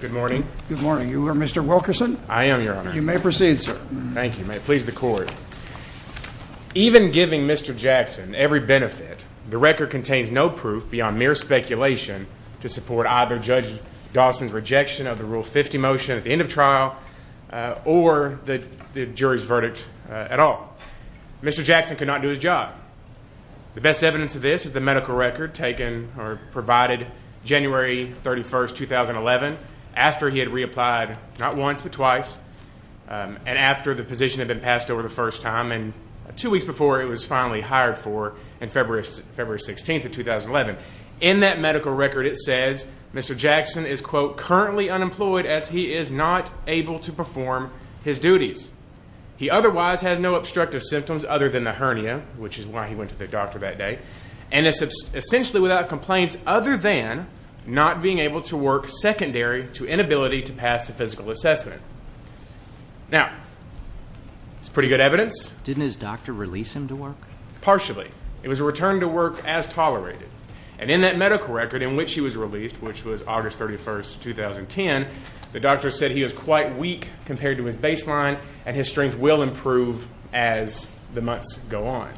Good morning. Good morning. You are Mr. Wilkerson? I am, your honor. You may proceed, sir. Thank you. May it please the court. Even giving Mr. Jackson every benefit, the record contains no proof beyond mere speculation to support either Judge Dawson's rejection of the Rule 50 motion at the end of his verdict at all. Mr. Jackson could not do his job. The best evidence of this is the medical record taken or provided January 31st, 2011, after he had reapplied not once but twice, and after the position had been passed over the first time, and two weeks before it was finally hired for on February 16th of 2011. In that medical record it says Mr. Jackson is, quote, currently unemployed as he is not able to perform his duties. He otherwise has no obstructive symptoms other than a hernia, which is why he went to the doctor that day, and is essentially without complaints other than not being able to work secondary to inability to pass a physical assessment. Now, that's pretty good evidence. Didn't his doctor release him to work? Partially. It was a return to work as tolerated. And in that medical record in which he was released, which was August 31st, 2010, the doctor said he was quite weak compared to his baseline, and his strength will improve as the months go on.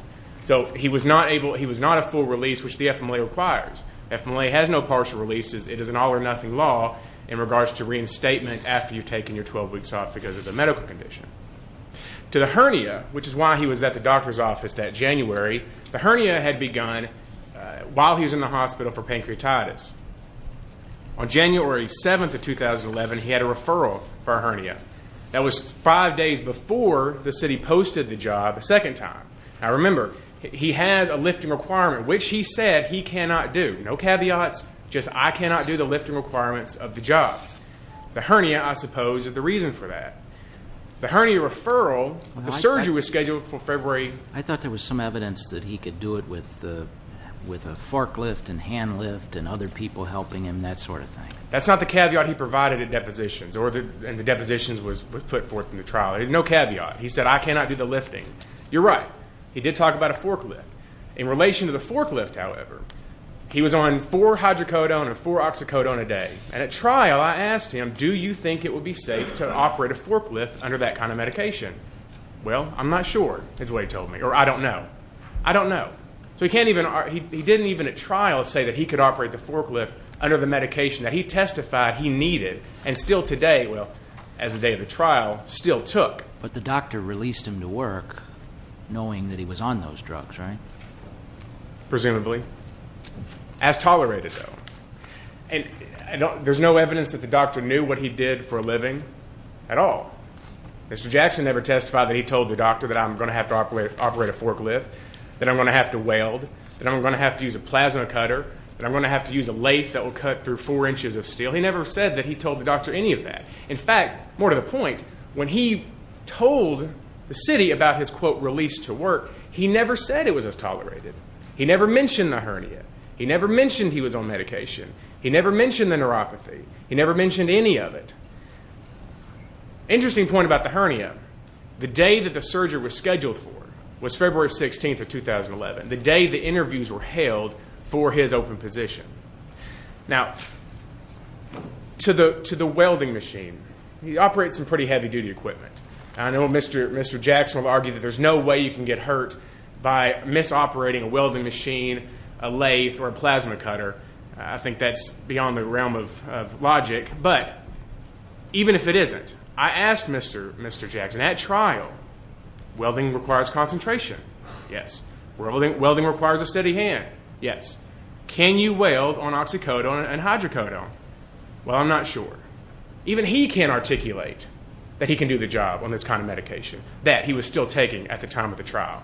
So he was not able, he was not a full release, which the FMLA requires. FMLA has no partial releases. It is an all or nothing law in regards to reinstatement after you've taken your 12 weeks off because of the medical condition. To the hernia, which is why he was at the doctor's office that January, the hernia had begun while he was in the hospital for pancreatitis. On January 7th of 2011, he had a referral for a hernia. That was five days before the city posted the job a second time. Now, remember, he has a lifting requirement, which he said he cannot do. No caveats. Just I cannot do the lifting requirements of the job. The hernia, I suppose, is the reason for that. The hernia referral, the surgery was scheduled for February. I thought there was some evidence that he could do it with a forklift and hand lift and other people helping him, that sort of thing. That's not the caveat he provided at depositions, and the depositions was put forth in the trial. There's no caveat. He said I cannot do the lifting. You're right. He did talk about a forklift. In relation to the forklift, however, he was on four hydrocodone and four oxycodone a day. At trial, I asked him, do you think it would be safe to operate a forklift under that kind of medication? Well, I'm not sure is what he told me, or I don't know. I don't know. He didn't even at trial say that he could operate the forklift under the medication that he testified he needed, and still today, well, as of the day of the trial, still took. But the doctor released him to work knowing that he was on those drugs, right? Presumably. As tolerated, though. There's no evidence that the doctor knew what he did for a living at all. Mr. Jackson never testified that he told the doctor that I'm going to have to operate a forklift, that I'm going to have to weld, that I'm going to have to use a plasma cutter, that I'm going to have to use a lathe that will cut through four inches of steel. He never said that he told the doctor any of that. In fact, more to the point, when he told the city about his, quote, release to work, he never said it was as tolerated. He never mentioned the hernia. He never mentioned he was on medication. He never mentioned the neuropathy. He never mentioned any of it. Interesting point about the hernia, the day that the surgery was scheduled for was February 16th of 2011, the day the interviews were held for his open position. Now, to the welding machine, he operates some pretty heavy-duty equipment. I know Mr. Jackson will argue that there's no way you can get hurt by misoperating a welding machine, a lathe, or a plasma cutter. I think that's beyond the realm of logic. But even if it isn't, I asked Mr. Jackson, at trial, welding requires concentration. Yes. Welding requires a steady hand. Yes. Can you weld on oxycodone and hydrocodone? Well, I'm not sure. Even he can't articulate that he can do the job on this kind of medication, that he was still taking at the time of the trial.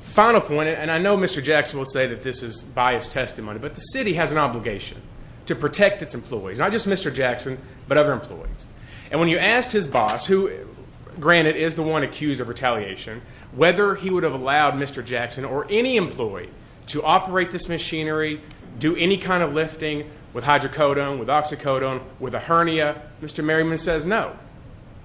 Final point, and I know Mr. Jackson will say that this is biased testimony, but the city has an obligation to protect its employees, not just Mr. Jackson, but other employees. And when you asked his boss, who, granted, is the one accused of retaliation, whether he would have allowed Mr. Jackson or any employee to operate this machinery, do any kind of lifting with hydrocodone, with oxycodone, with a hernia, Mr. Merriman says no.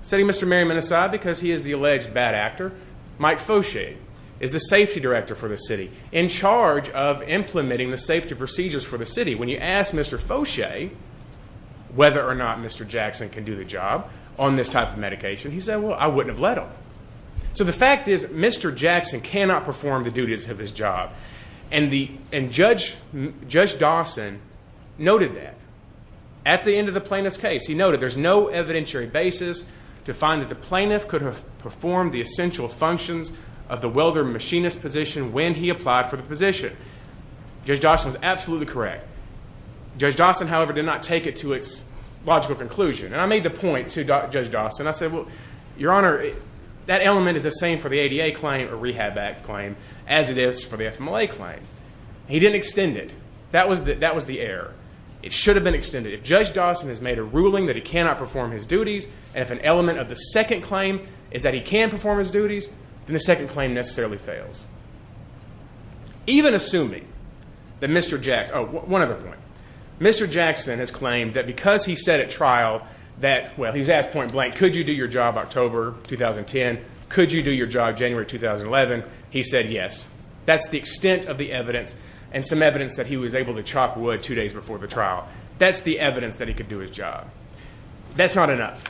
Setting Mr. Merriman aside because he is the alleged bad actor, Mike Foshay is the safety director for the city, in charge of implementing the safety procedures for the city. When you ask Mr. Foshay whether or not Mr. Jackson can do the job on this type of medication, he said, well, I wouldn't have let him. So the fact is Mr. Jackson cannot perform the duties of his job. And Judge Dawson noted that. At the end of the plaintiff's case, he noted, there's no evidentiary basis to find that the plaintiff could have performed the essential functions of the welder and machinist position when he applied for the position. Judge Dawson is absolutely correct. Judge Dawson, however, did not take it to its logical conclusion. And I made the point to Judge Dawson, I said, well, Your Honor, that element is the same for the ADA claim or rehab act claim as it is for the FMLA claim. He didn't extend it. That was the error. It should have been extended. If Judge Dawson has made a ruling that he cannot perform his duties, and if an element of the second claim is that he can perform his duties, then the second claim necessarily fails. Even assuming that Mr. Jackson, oh, one other point. Mr. Jackson has claimed that because he said at trial that, well, he's asked point blank, could you do your job October 2010, could you do your job January 2011, he said yes. That's the extent of the evidence and some evidence that he was able to chop wood two days before the trial. That's the evidence that he could do his job. That's not enough.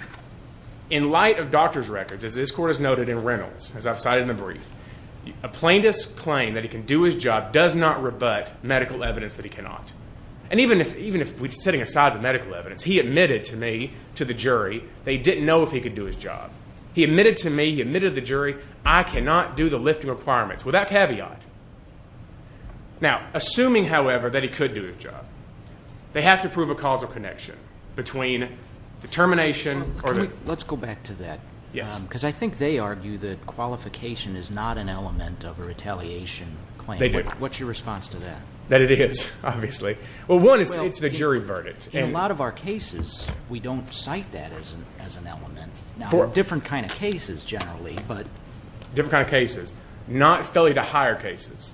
In light of doctor's records, as this court has noted in Reynolds, as I've cited in the brief, a plaintiff's claim that he can do his job does not rebut medical evidence that he cannot. And even if we're sitting aside the medical evidence, he admitted to me, to the jury, that he didn't know if he could do his job. He admitted to me, he admitted to the jury, I cannot do the lifting requirements, without caveat. Now, assuming, however, that he could do his job, they have to prove a causal connection between determination or the- Let's go back to that. Yes. Because I think they argue that qualification is not an element of a retaliation claim. They do. What's your response to that? That it is, obviously. Well, one is it's the jury verdict. In a lot of our cases, we don't cite that as an element. Now, different kind of cases, generally, but- Different kind of cases. Not failure-to-hire cases.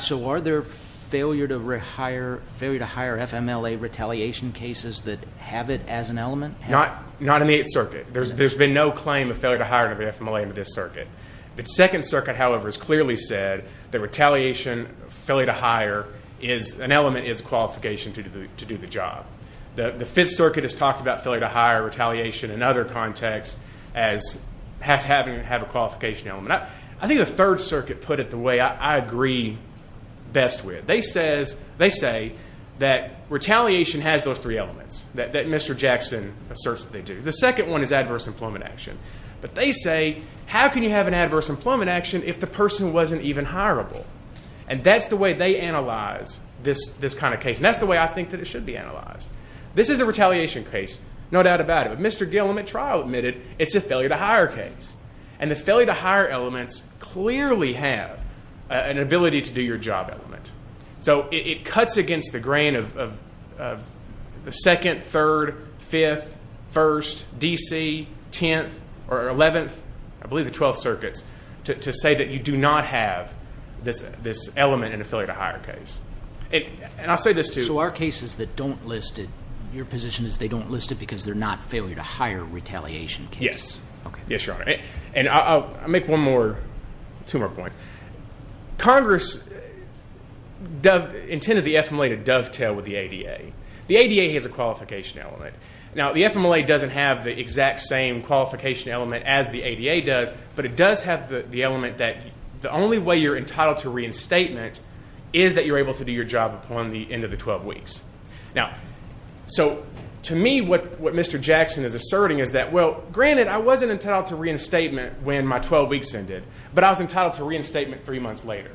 So are there failure-to-hire FMLA retaliation cases that have it as an element? Not in the Eighth Circuit. There's been no claim of failure-to-hire FMLA in this circuit. The Second Circuit, however, has clearly said that retaliation, failure-to-hire, is an element, is a qualification to do the job. The Fifth Circuit has talked about failure-to-hire retaliation in other contexts as having to have a qualification element. I think the Third Circuit put it the way I agree best with. They say that retaliation has those three elements, that Mr. Jackson asserts that they do. The second one is adverse employment action. But they say, how can you have an adverse employment action if the person wasn't even hireable? And that's the way they analyze this kind of case. And that's the way I think that it should be analyzed. This is a retaliation case. No doubt about it. If Mr. Gillum at trial admitted it's a failure-to-hire case. And the failure-to-hire elements clearly have an ability to do your job element. So it cuts against the grain of the Second, Third, Fifth, First, D.C., Tenth or Eleventh, I believe the Twelfth Circuits, to say that you do not have this element in a failure-to-hire case. And I'll say this too. So our cases that don't list it, your position is they don't list it because they're not failure-to-hire retaliation cases? Yes. Yes, Your Honor. And I'll make one more, two more points. Congress intended the FMLA to dovetail with the ADA. The ADA has a qualification element. Now, the FMLA doesn't have the exact same qualification element as the ADA does, but it does have the element that the only way you're entitled to reinstatement is that you're able to do your job upon the end of the 12 weeks. Now, so to me, what Mr. Jackson is asserting is that, well, granted, I wasn't entitled to reinstatement when my 12 weeks ended, but I was entitled to reinstatement three months later.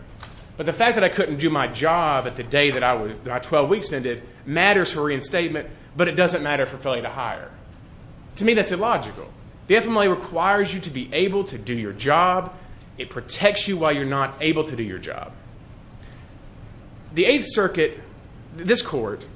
But the fact that I couldn't do my job at the day that my 12 weeks ended matters for reinstatement, but it doesn't matter for failure-to-hire. To me, that's illogical. The FMLA requires you to be able to do your job. It protects you while you're not able to do your job. The Eighth Circuit, this court,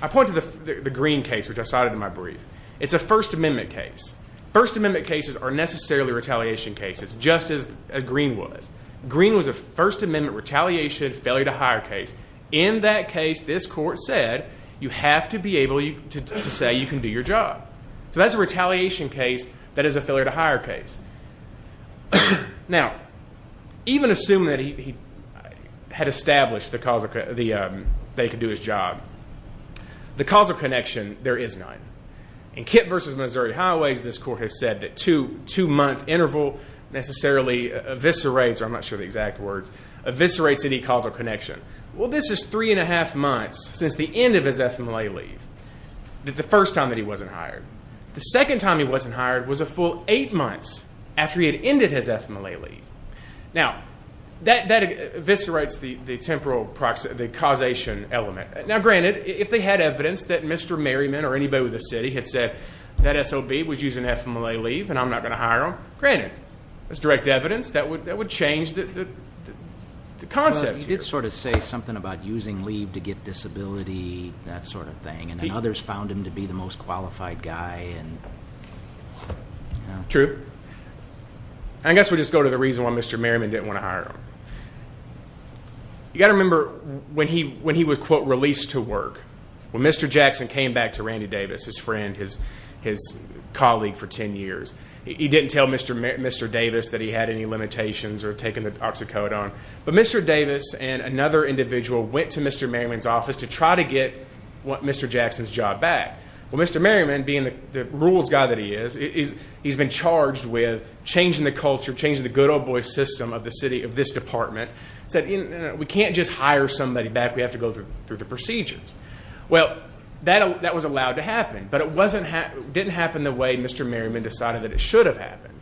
I point to the Green case, which I cited in my brief. It's a First Amendment case. First Amendment cases are necessarily retaliation cases, just as Green was. Green was a First Amendment retaliation failure-to-hire case. In that case, this court said, you have to be able to say you can do your job. So that's a retaliation case that is a failure-to-hire case. Now, even assuming that he had established that he could do his job, the causal connection, there is none. In Kip v. Missouri Highways, this court has said that two-month interval necessarily eviscerates, or I'm not sure of the exact words, eviscerates any causal connection. Well, this is three-and-a-half months since the end of his FMLA leave, the first time that he wasn't hired. The second time he wasn't hired was a full eight months after he had ended his FMLA leave. Now, that eviscerates the temporal causation element. Now, granted, if they had evidence that Mr. Merriman or anybody with a city had said, that SOB was using FMLA leave and I'm not going to hire him, granted, that's direct evidence. That would change the concept here. You could sort of say something about using leave to get disability, that sort of thing, and then others found him to be the most qualified guy. True. I guess we'll just go to the reason why Mr. Merriman didn't want to hire him. You've got to remember when he was, quote, released to work, when Mr. Jackson came back to Randy Davis, his friend, his colleague for 10 years, he didn't tell Mr. Davis that he had any limitations or taken the oxycodone. But Mr. Davis and another individual went to Mr. Merriman's office to try to get Mr. Jackson's job back. Well, Mr. Merriman, being the rules guy that he is, he's been charged with changing the culture, changing the good old boy system of the city, of this department. He said, we can't just hire somebody back. We have to go through the procedures. Well, that was allowed to happen. But it didn't happen the way Mr. Merriman decided that it should have happened.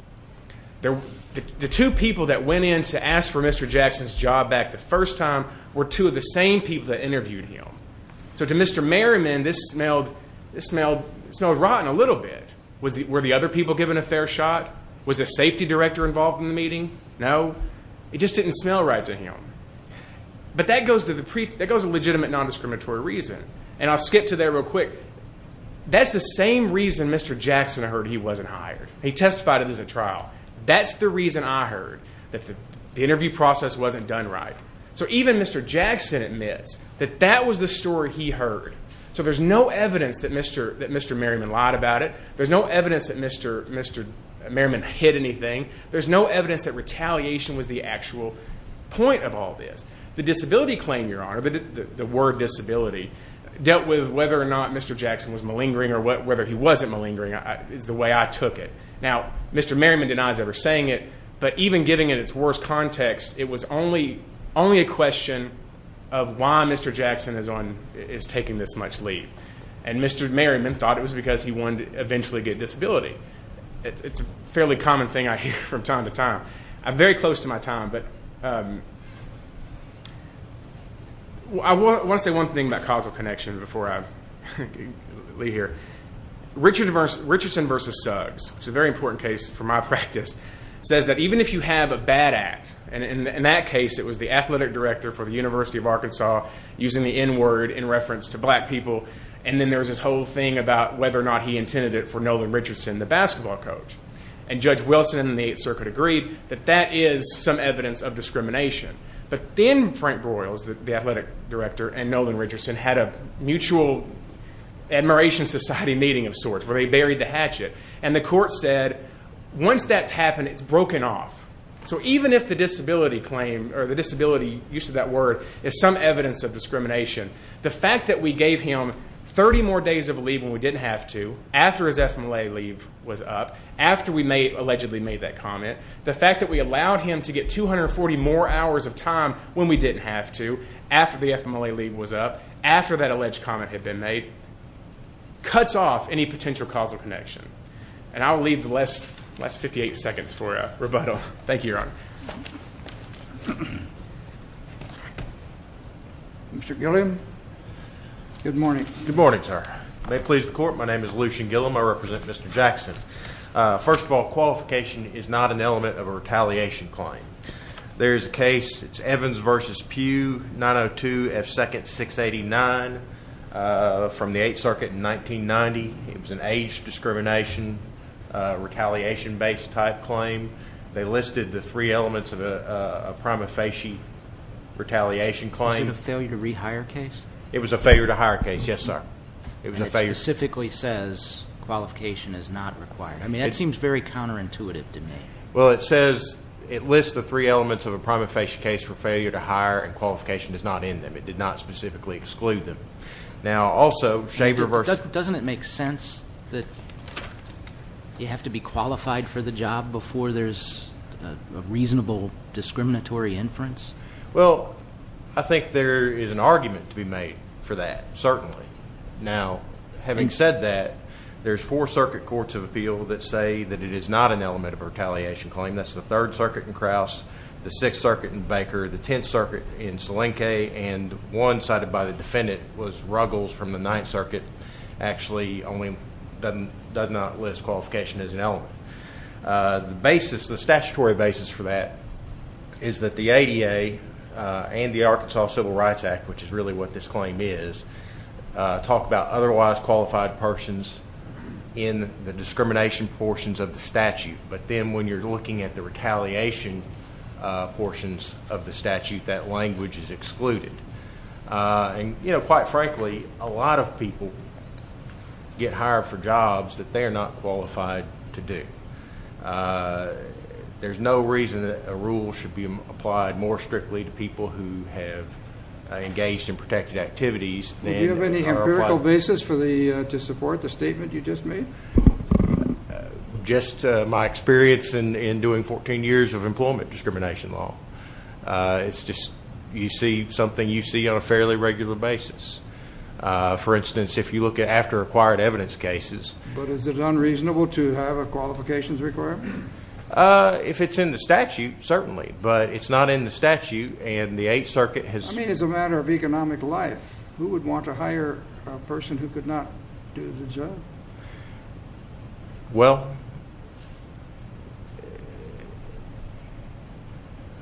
The two people that went in to ask for Mr. Jackson's job back the first time were two of the same people that interviewed him. So to Mr. Merriman, this smelled rotten a little bit. Were the other people given a fair shot? Was the safety director involved in the meeting? No. It just didn't smell right to him. But that goes to the legitimate nondiscriminatory reason. And I'll skip to that real quick. That's the same reason Mr. Jackson heard he wasn't hired. He testified it was a trial. That's the reason I heard that the interview process wasn't done right. So even Mr. Jackson admits that that was the story he heard. So there's no evidence that Mr. Merriman lied about it. There's no evidence that Mr. Merriman hid anything. There's no evidence that retaliation was the actual point of all this. The disability claim, Your Honor, the word disability, dealt with whether or not Mr. Jackson was malingering or whether he wasn't malingering is the way I took it. Now, Mr. Merriman denies ever saying it, but even giving it its worst context, it was only a question of why Mr. Jackson is taking this much leave. And Mr. Merriman thought it was because he wanted to eventually get a disability. It's a fairly common thing I hear from time to time. I'm very close to my time, but I want to say one thing about causal connection before I leave here. Richardson versus Suggs, which is a very important case for my practice, says that even if you have a bad act, and in that case it was the athletic director for the University of Arkansas using the N-word in reference to black people, and then there was this whole thing about whether or not he intended it for Nolan Richardson, the basketball coach. And Judge Wilson in the Eighth Circuit agreed that that is some evidence of discrimination. But then Frank Broyles, the athletic director, and Nolan Richardson had a mutual admiration society meeting of sorts where they buried the hatchet, and the court said once that's happened, it's broken off. So even if the disability claim or the disability, use of that word, is some evidence of discrimination, the fact that we gave him 30 more days of leave when we didn't have to, after his FMLA leave was up, after we allegedly made that comment, the fact that we allowed him to get 240 more hours of time when we didn't have to, after the FMLA leave was up, after that alleged comment had been made, cuts off any potential causal connection. And I'll leave the last 58 seconds for rebuttal. Thank you, Your Honor. Mr. Gilliam? Good morning. Good morning, sir. May it please the Court, my name is Lucian Gilliam. I represent Mr. Jackson. First of all, qualification is not an element of a retaliation claim. There is a case, it's Evans v. Pugh, 902 F. 2nd 689 from the Eighth Circuit in 1990. It was an age discrimination retaliation-based type claim. They listed the three elements of a prima facie retaliation claim. Was it a failure to rehire case? It was a failure to hire case, yes, sir. And it specifically says qualification is not required. I mean, that seems very counterintuitive to me. Well, it says, it lists the three elements of a prima facie case for failure to hire and qualification is not in them. It did not specifically exclude them. Now, also, shaver versus. Doesn't it make sense that you have to be qualified for the job before there's a reasonable discriminatory inference? Well, I think there is an argument to be made for that, certainly. Now, having said that, there's four circuit courts of appeal that say that it is not an element of a retaliation claim. That's the Third Circuit in Krauss, the Sixth Circuit in Baker, the Tenth Circuit in Salenke, and one cited by the defendant was Ruggles from the Ninth Circuit, The basis, the statutory basis for that is that the ADA and the Arkansas Civil Rights Act, which is really what this claim is, talk about otherwise qualified persons in the discrimination portions of the statute. But then when you're looking at the retaliation portions of the statute, that language is excluded. And, you know, quite frankly, a lot of people get hired for jobs that they are not qualified to do. There's no reason that a rule should be applied more strictly to people who have engaged in protected activities. Do you have any empirical basis to support the statement you just made? Just my experience in doing 14 years of employment discrimination law. It's just you see something you see on a fairly regular basis. For instance, if you look at after acquired evidence cases. But is it unreasonable to have a qualifications requirement? If it's in the statute, certainly. But it's not in the statute, and the Eighth Circuit has… I mean, it's a matter of economic life. Well,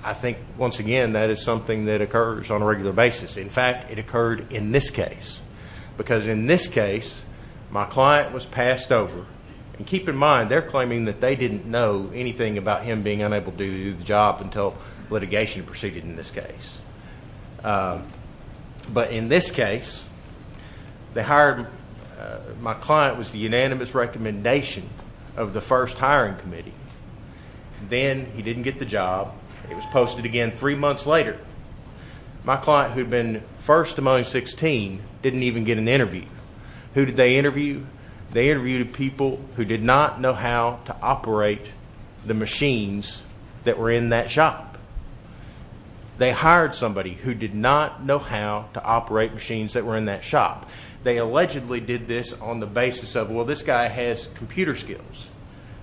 I think, once again, that is something that occurs on a regular basis. In fact, it occurred in this case. Because in this case, my client was passed over. And keep in mind, they're claiming that they didn't know anything about him being unable to do the job until litigation proceeded in this case. But in this case, they hired him. My client was the unanimous recommendation of the first hiring committee. Then he didn't get the job. It was posted again three months later. My client, who had been first among 16, didn't even get an interview. Who did they interview? They interviewed people who did not know how to operate the machines that were in that shop. They hired somebody who did not know how to operate machines that were in that shop. They allegedly did this on the basis of, well, this guy has computer skills.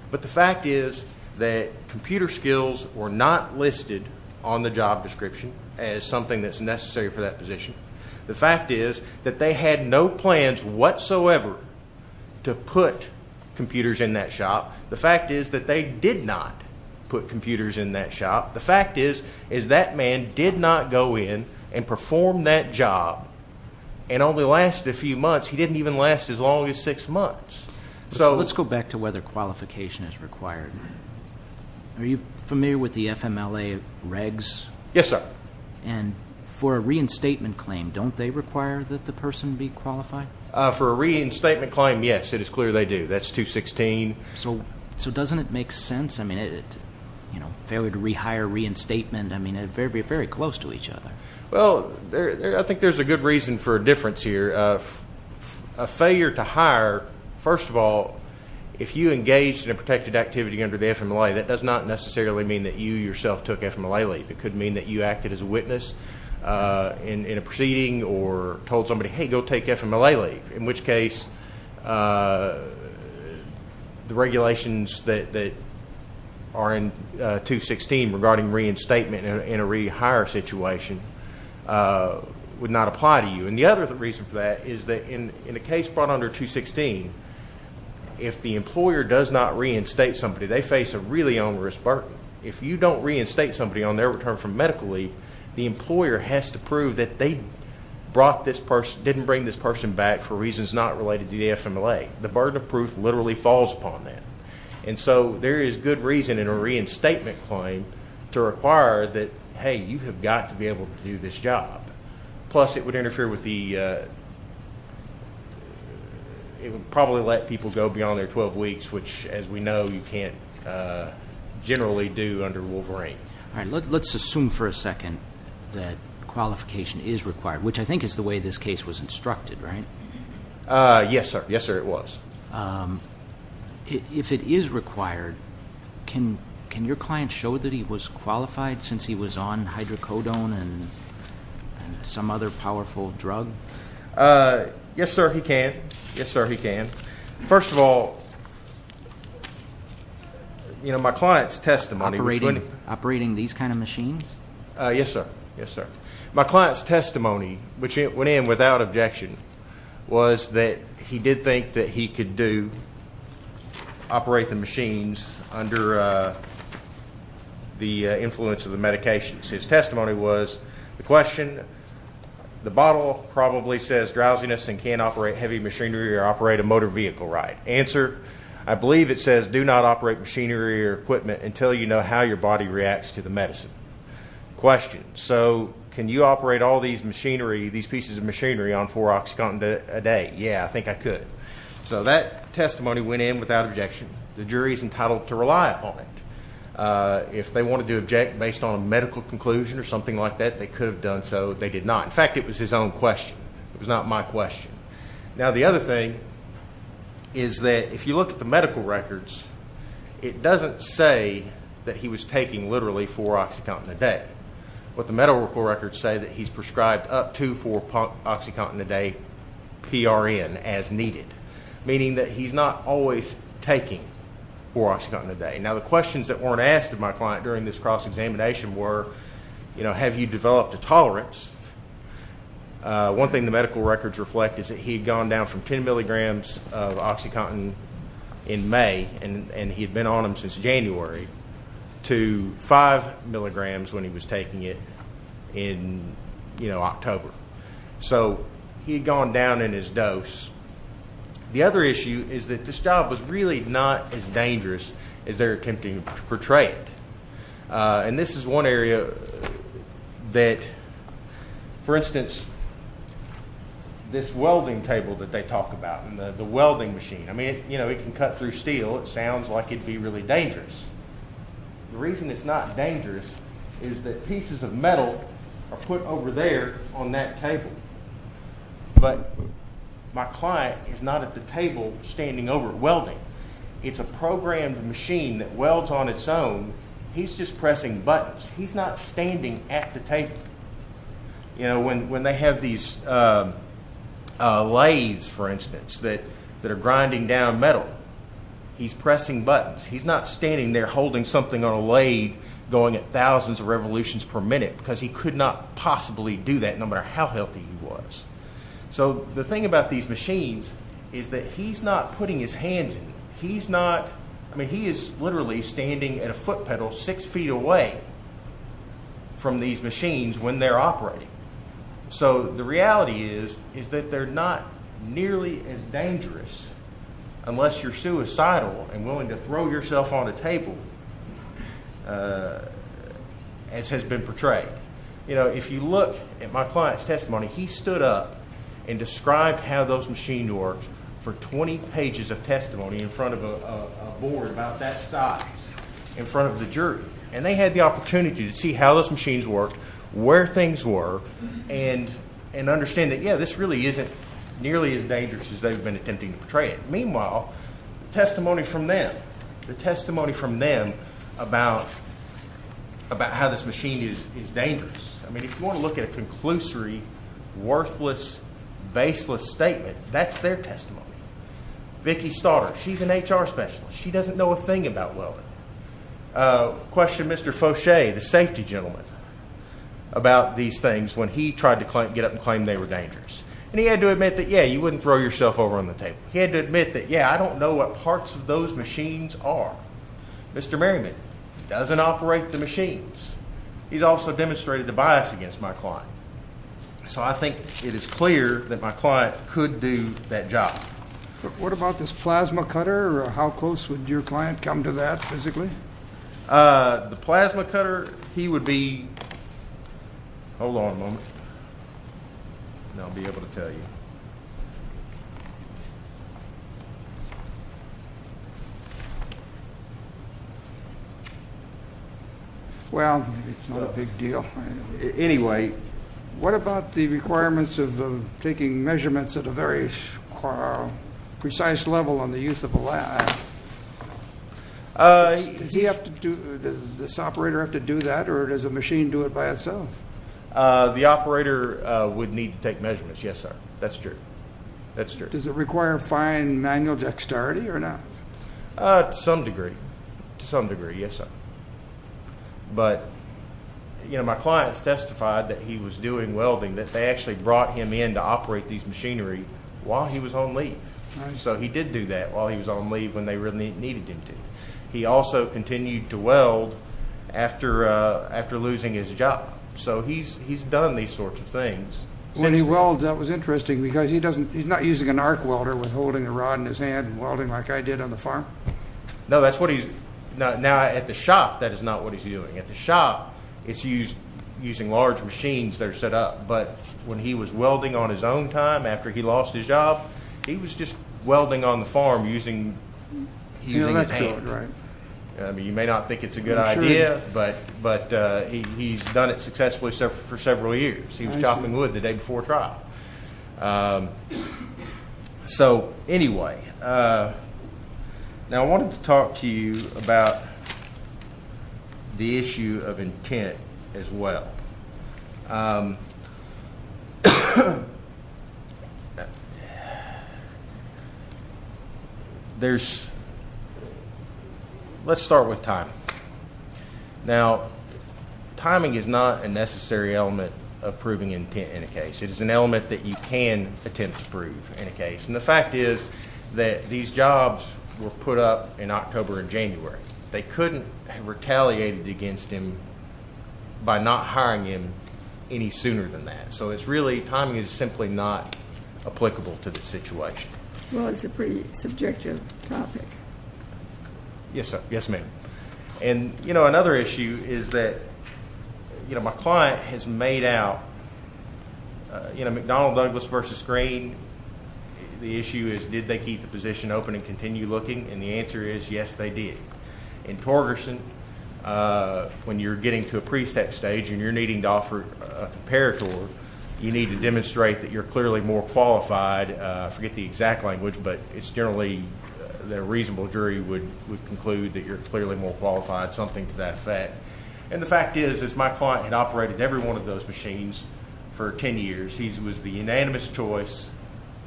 But the fact is that computer skills were not listed on the job description as something that's necessary for that position. The fact is that they had no plans whatsoever to put computers in that shop. The fact is that they did not put computers in that shop. The fact is that man did not go in and perform that job and only lasted a few months. He didn't even last as long as six months. So let's go back to whether qualification is required. Are you familiar with the FMLA regs? Yes, sir. And for a reinstatement claim, don't they require that the person be qualified? For a reinstatement claim, yes. It is clear they do. That's 216. So doesn't it make sense? I mean, you know, failure to rehire, reinstatement, I mean, very close to each other. Well, I think there's a good reason for a difference here. A failure to hire, first of all, if you engaged in a protected activity under the FMLA, that does not necessarily mean that you yourself took FMLA leave. It could mean that you acted as a witness in a proceeding or told somebody, hey, go take FMLA leave, in which case the regulations that are in 216 regarding reinstatement in a rehire situation would not apply to you. And the other reason for that is that in a case brought under 216, if the employer does not reinstate somebody, they face a really onerous burden. If you don't reinstate somebody on their return from medical leave, the employer has to prove that they brought this person, didn't bring this person back for reasons not related to the FMLA. The burden of proof literally falls upon them. And so there is good reason in a reinstatement claim to require that, hey, you have got to be able to do this job. Plus it would interfere with the, it would probably let people go beyond their 12 weeks, which, as we know, you can't generally do under Wolverine. All right. Let's assume for a second that qualification is required, which I think is the way this case was instructed, right? Yes, sir. Yes, sir, it was. If it is required, can your client show that he was qualified since he was on hydrocodone and some other powerful drug? Yes, sir, he can. Yes, sir, he can. First of all, you know, my client's testimony. Operating these kind of machines? Yes, sir. Yes, sir. My client's testimony, which went in without objection, was that he did think that he could do, operate the machines under the influence of the medications. His testimony was the question, the bottle probably says drowsiness and can't operate heavy machinery or operate a motor vehicle, right? Answer, I believe it says do not operate machinery or equipment until you know how your body reacts to the medicine. Question, so can you operate all these machinery, these pieces of machinery, on 4-oxycontin a day? Yeah, I think I could. So that testimony went in without objection. The jury is entitled to rely upon it. If they wanted to object based on a medical conclusion or something like that, they could have done so. They did not. In fact, it was his own question. It was not my question. Now, the other thing is that if you look at the medical records, it doesn't say that he was taking literally 4-oxycontin a day. What the medical records say that he's prescribed up to 4-oxycontin a day PRN as needed, meaning that he's not always taking 4-oxycontin a day. Now, the questions that weren't asked of my client during this cross-examination were, you know, have you developed a tolerance? One thing the medical records reflect is that he had gone down from 10 milligrams of oxycontin in May, and he had been on them since January, to 5 milligrams when he was taking it in, you know, October. So he had gone down in his dose. The other issue is that this job was really not as dangerous as they're attempting to portray it. And this is one area that, for instance, this welding table that they talk about and the welding machine. I mean, you know, it can cut through steel. It sounds like it would be really dangerous. The reason it's not dangerous is that pieces of metal are put over there on that table. But my client is not at the table standing over welding. It's a programmed machine that welds on its own. He's just pressing buttons. He's not standing at the table. You know, when they have these lathes, for instance, that are grinding down metal, he's pressing buttons. He's not standing there holding something on a lathe going at thousands of revolutions per minute because he could not possibly do that no matter how healthy he was. So the thing about these machines is that he's not putting his hands in. He's not. I mean, he is literally standing at a foot pedal six feet away from these machines when they're operating. So the reality is is that they're not nearly as dangerous unless you're suicidal and willing to throw yourself on a table as has been portrayed. You know, if you look at my client's testimony, he stood up and described how those machines worked for 20 pages of testimony in front of a board about that size in front of the jury. And they had the opportunity to see how those machines worked, where things were, and understand that, yeah, this really isn't nearly as dangerous as they've been attempting to portray it. Meanwhile, testimony from them, the testimony from them about how this machine is dangerous. I mean, if you want to look at a conclusory, worthless, baseless statement, that's their testimony. Vicki Stoddard, she's an HR specialist. She doesn't know a thing about welding. Questioned Mr. Fauche, the safety gentleman, about these things when he tried to get up and claim they were dangerous. And he had to admit that, yeah, you wouldn't throw yourself over on the table. He had to admit that, yeah, I don't know what parts of those machines are. Mr. Merriman doesn't operate the machines. He's also demonstrated a bias against my client. So I think it is clear that my client could do that job. What about this plasma cutter? How close would your client come to that physically? The plasma cutter, he would be – hold on a moment. I'll be able to tell you. Well, it's not a big deal. Anyway, what about the requirements of taking measurements at a very precise level on the use of a lab? Does he have to do – does this operator have to do that, or does the machine do it by itself? The operator would need to take measurements, yes, sir. That's true. That's true. Does it require fine manual dexterity or not? To some degree. To some degree, yes, sir. But, you know, my clients testified that he was doing welding, that they actually brought him in to operate these machinery while he was on leave. So he did do that while he was on leave when they really needed him to. He also continued to weld after losing his job. So he's done these sorts of things. When he welds, that was interesting because he's not using an arc welder with holding a rod in his hand and welding like I did on the farm? No, that's what he's – now, at the shop, that is not what he's doing. At the shop, it's using large machines that are set up. But when he was welding on his own time after he lost his job, he was just welding on the farm using his hands. You may not think it's a good idea, but he's done it successfully for several years. He was chopping wood the day before trial. So, anyway, now I wanted to talk to you about the issue of intent as well. There's – let's start with timing. Now, timing is not a necessary element of proving intent in a case. It is an element that you can attempt to prove in a case. And the fact is that these jobs were put up in October and January. They couldn't have retaliated against him by not hiring him any sooner than that. So it's really – timing is simply not applicable to this situation. Well, it's a pretty subjective topic. Yes, sir. Yes, ma'am. And, you know, another issue is that, you know, my client has made out – you know, McDonnell Douglas versus Green, the issue is did they keep the position open and continue looking? And the answer is yes, they did. In Torgerson, when you're getting to a pre-step stage and you're needing to offer a comparator, you need to demonstrate that you're clearly more qualified. I forget the exact language, but it's generally that a reasonable jury would conclude that you're clearly more qualified, something to that effect. And the fact is, is my client had operated every one of those machines for 10 years. He was the unanimous choice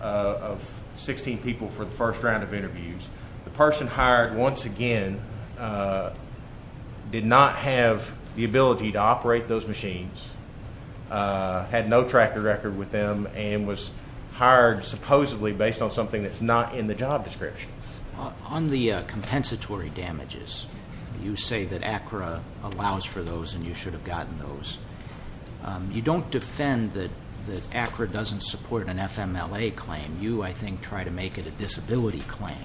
of 16 people for the first round of interviews. The person hired, once again, did not have the ability to operate those machines, had no tracker record with them, and was hired supposedly based on something that's not in the job description. On the compensatory damages, you say that ACRA allows for those and you should have gotten those. You don't defend that ACRA doesn't support an FMLA claim. You, I think, try to make it a disability claim.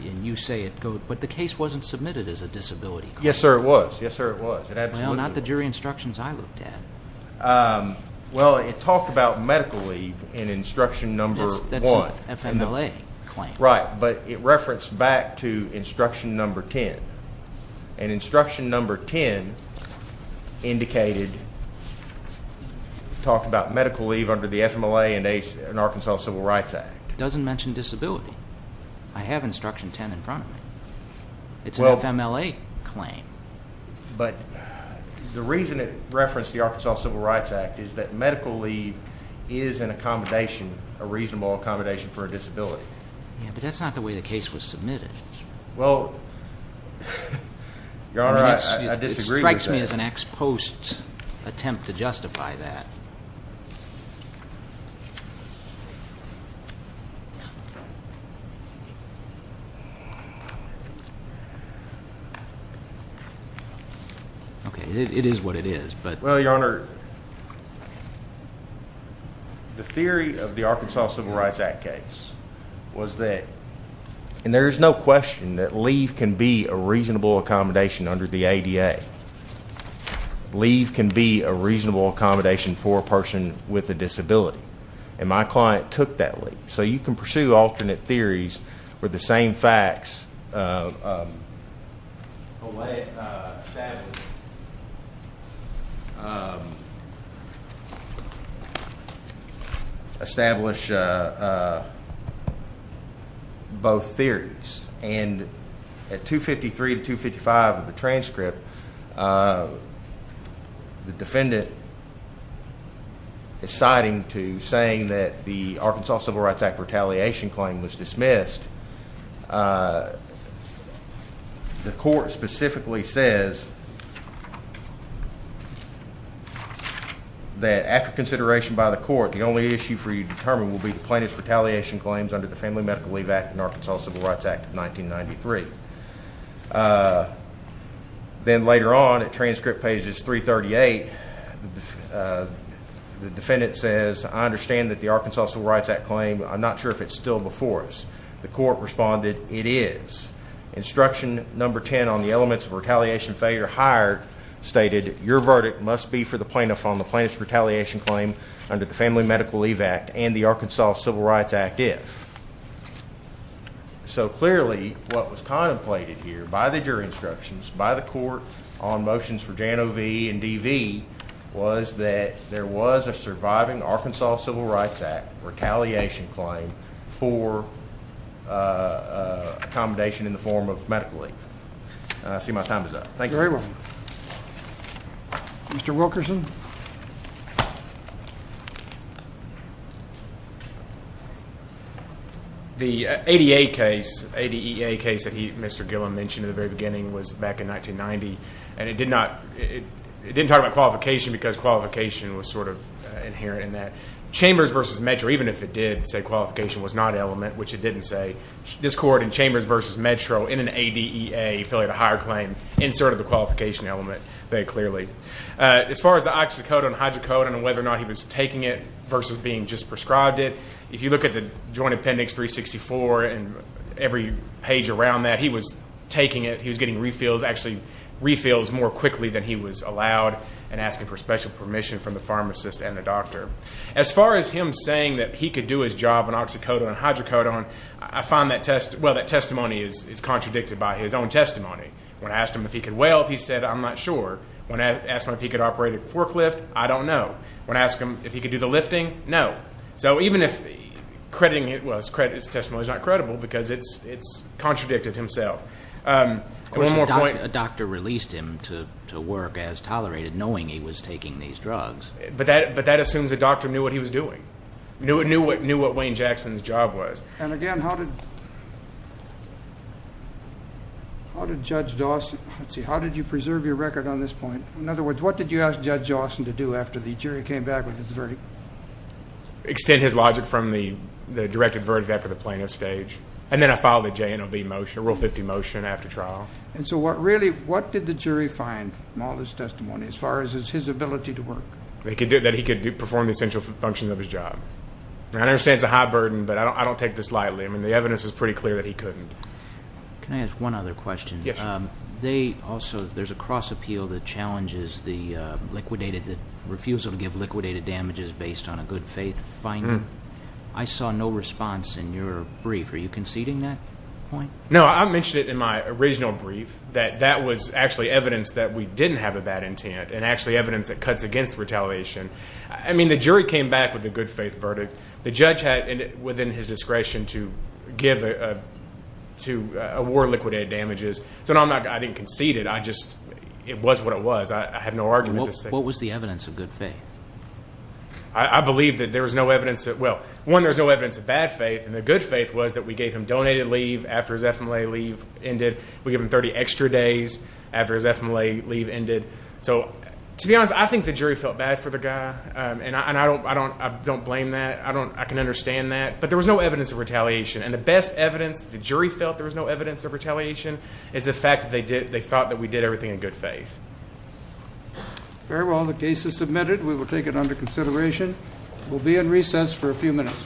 And you say it goes – but the case wasn't submitted as a disability claim. Yes, sir, it was. Yes, sir, it was. Well, not the jury instructions I looked at. Well, it talked about medical leave in instruction number 1. That's an FMLA claim. Right, but it referenced back to instruction number 10. And instruction number 10 indicated, talked about medical leave under the FMLA and Arkansas Civil Rights Act. It doesn't mention disability. I have instruction 10 in front of me. It's an FMLA claim. But the reason it referenced the Arkansas Civil Rights Act is that medical leave is an accommodation, a reasonable accommodation for a disability. Yeah, but that's not the way the case was submitted. Well, Your Honor, I disagree with that. It strikes me as an ex post attempt to justify that. Okay, it is what it is. Well, Your Honor, the theory of the Arkansas Civil Rights Act case was that, and there is no question that leave can be a reasonable accommodation under the ADA. Leave can be a reasonable accommodation for a person with a disability. And my client took that leave. So you can pursue alternate theories where the same facts establish both theories. And at 253 to 255 of the transcript, the defendant is citing to saying that the Arkansas Civil Rights Act retaliation claim was dismissed. The court specifically says that after consideration by the court, the only issue for you to determine will be the plaintiff's retaliation claims under the Family Medical Leave Act and Arkansas Civil Rights Act of 1993. Then later on, at transcript pages 338, the defendant says, I understand that the Arkansas Civil Rights Act claim, I'm not sure if it's still before us. The court responded, it is. Instruction number 10 on the elements of retaliation failure hired stated, your verdict must be for the plaintiff on the plaintiff's retaliation claim under the Family Medical Leave Act and the Arkansas Civil Rights Act if. So clearly what was contemplated here by the jury instructions, by the court on motions for Jano V and DV was that there was a surviving Arkansas Civil Rights Act retaliation claim for accommodation in the form of medical leave. I see my time is up. Thank you. Mr. Wilkerson. The ADA case, ADEA case that Mr. Gillum mentioned at the very beginning was back in 1990, and it didn't talk about qualification because qualification was sort of inherent in that. Chambers v. Metro, even if it did say qualification was not element, which it didn't say, this court in Chambers v. Metro in an ADEA affiliated hire claim inserted the qualification element there clearly. As far as the oxycodone and hydrocodone and whether or not he was taking it versus being just prescribed it, if you look at the Joint Appendix 364 and every page around that, he was taking it. He was getting refills, actually refills more quickly than he was allowed and asking for special permission from the pharmacist and the doctor. As far as him saying that he could do his job on oxycodone and hydrocodone, I find that testimony is contradicted by his own testimony. When I asked him if he could weld, he said, I'm not sure. When I asked him if he could operate a forklift, I don't know. When I asked him if he could do the lifting, no. So even if crediting his testimony is not credible because it's contradicted himself. Of course, a doctor released him to work as tolerated knowing he was taking these drugs. But that assumes the doctor knew what he was doing, knew what Wayne Jackson's job was. And again, how did Judge Dawson, let's see, how did you preserve your record on this point? In other words, what did you ask Judge Dawson to do after the jury came back with his verdict? Extend his logic from the directed verdict after the plaintiff's stage. And then I filed a J&OB motion, a Rule 50 motion after trial. And so what really, what did the jury find from all this testimony as far as his ability to work? That he could perform the essential functions of his job. I understand it's a high burden, but I don't take this lightly. I mean, the evidence is pretty clear that he couldn't. Can I ask one other question? Yes. They also, there's a cross appeal that challenges the liquidated, the refusal to give liquidated damages based on a good faith finding. I saw no response in your brief. Are you conceding that point? No, I mentioned it in my original brief that that was actually evidence that we didn't have a bad intent and actually evidence that cuts against retaliation. I mean, the jury came back with a good faith verdict. The judge had within his discretion to give, to award liquidated damages. So no, I didn't concede it. I just, it was what it was. I have no argument to say. What was the evidence of good faith? I believe that there was no evidence that, well, one, there was no evidence of bad faith. And the good faith was that we gave him donated leave after his FMLA leave ended. We gave him 30 extra days after his FMLA leave ended. So, to be honest, I think the jury felt bad for the guy. And I don't blame that. I don't, I can understand that. But there was no evidence of retaliation. And the best evidence the jury felt there was no evidence of retaliation is the fact that they did, they thought that we did everything in good faith. Very well. The case is submitted. We will take it under consideration. We'll be in recess for a few minutes.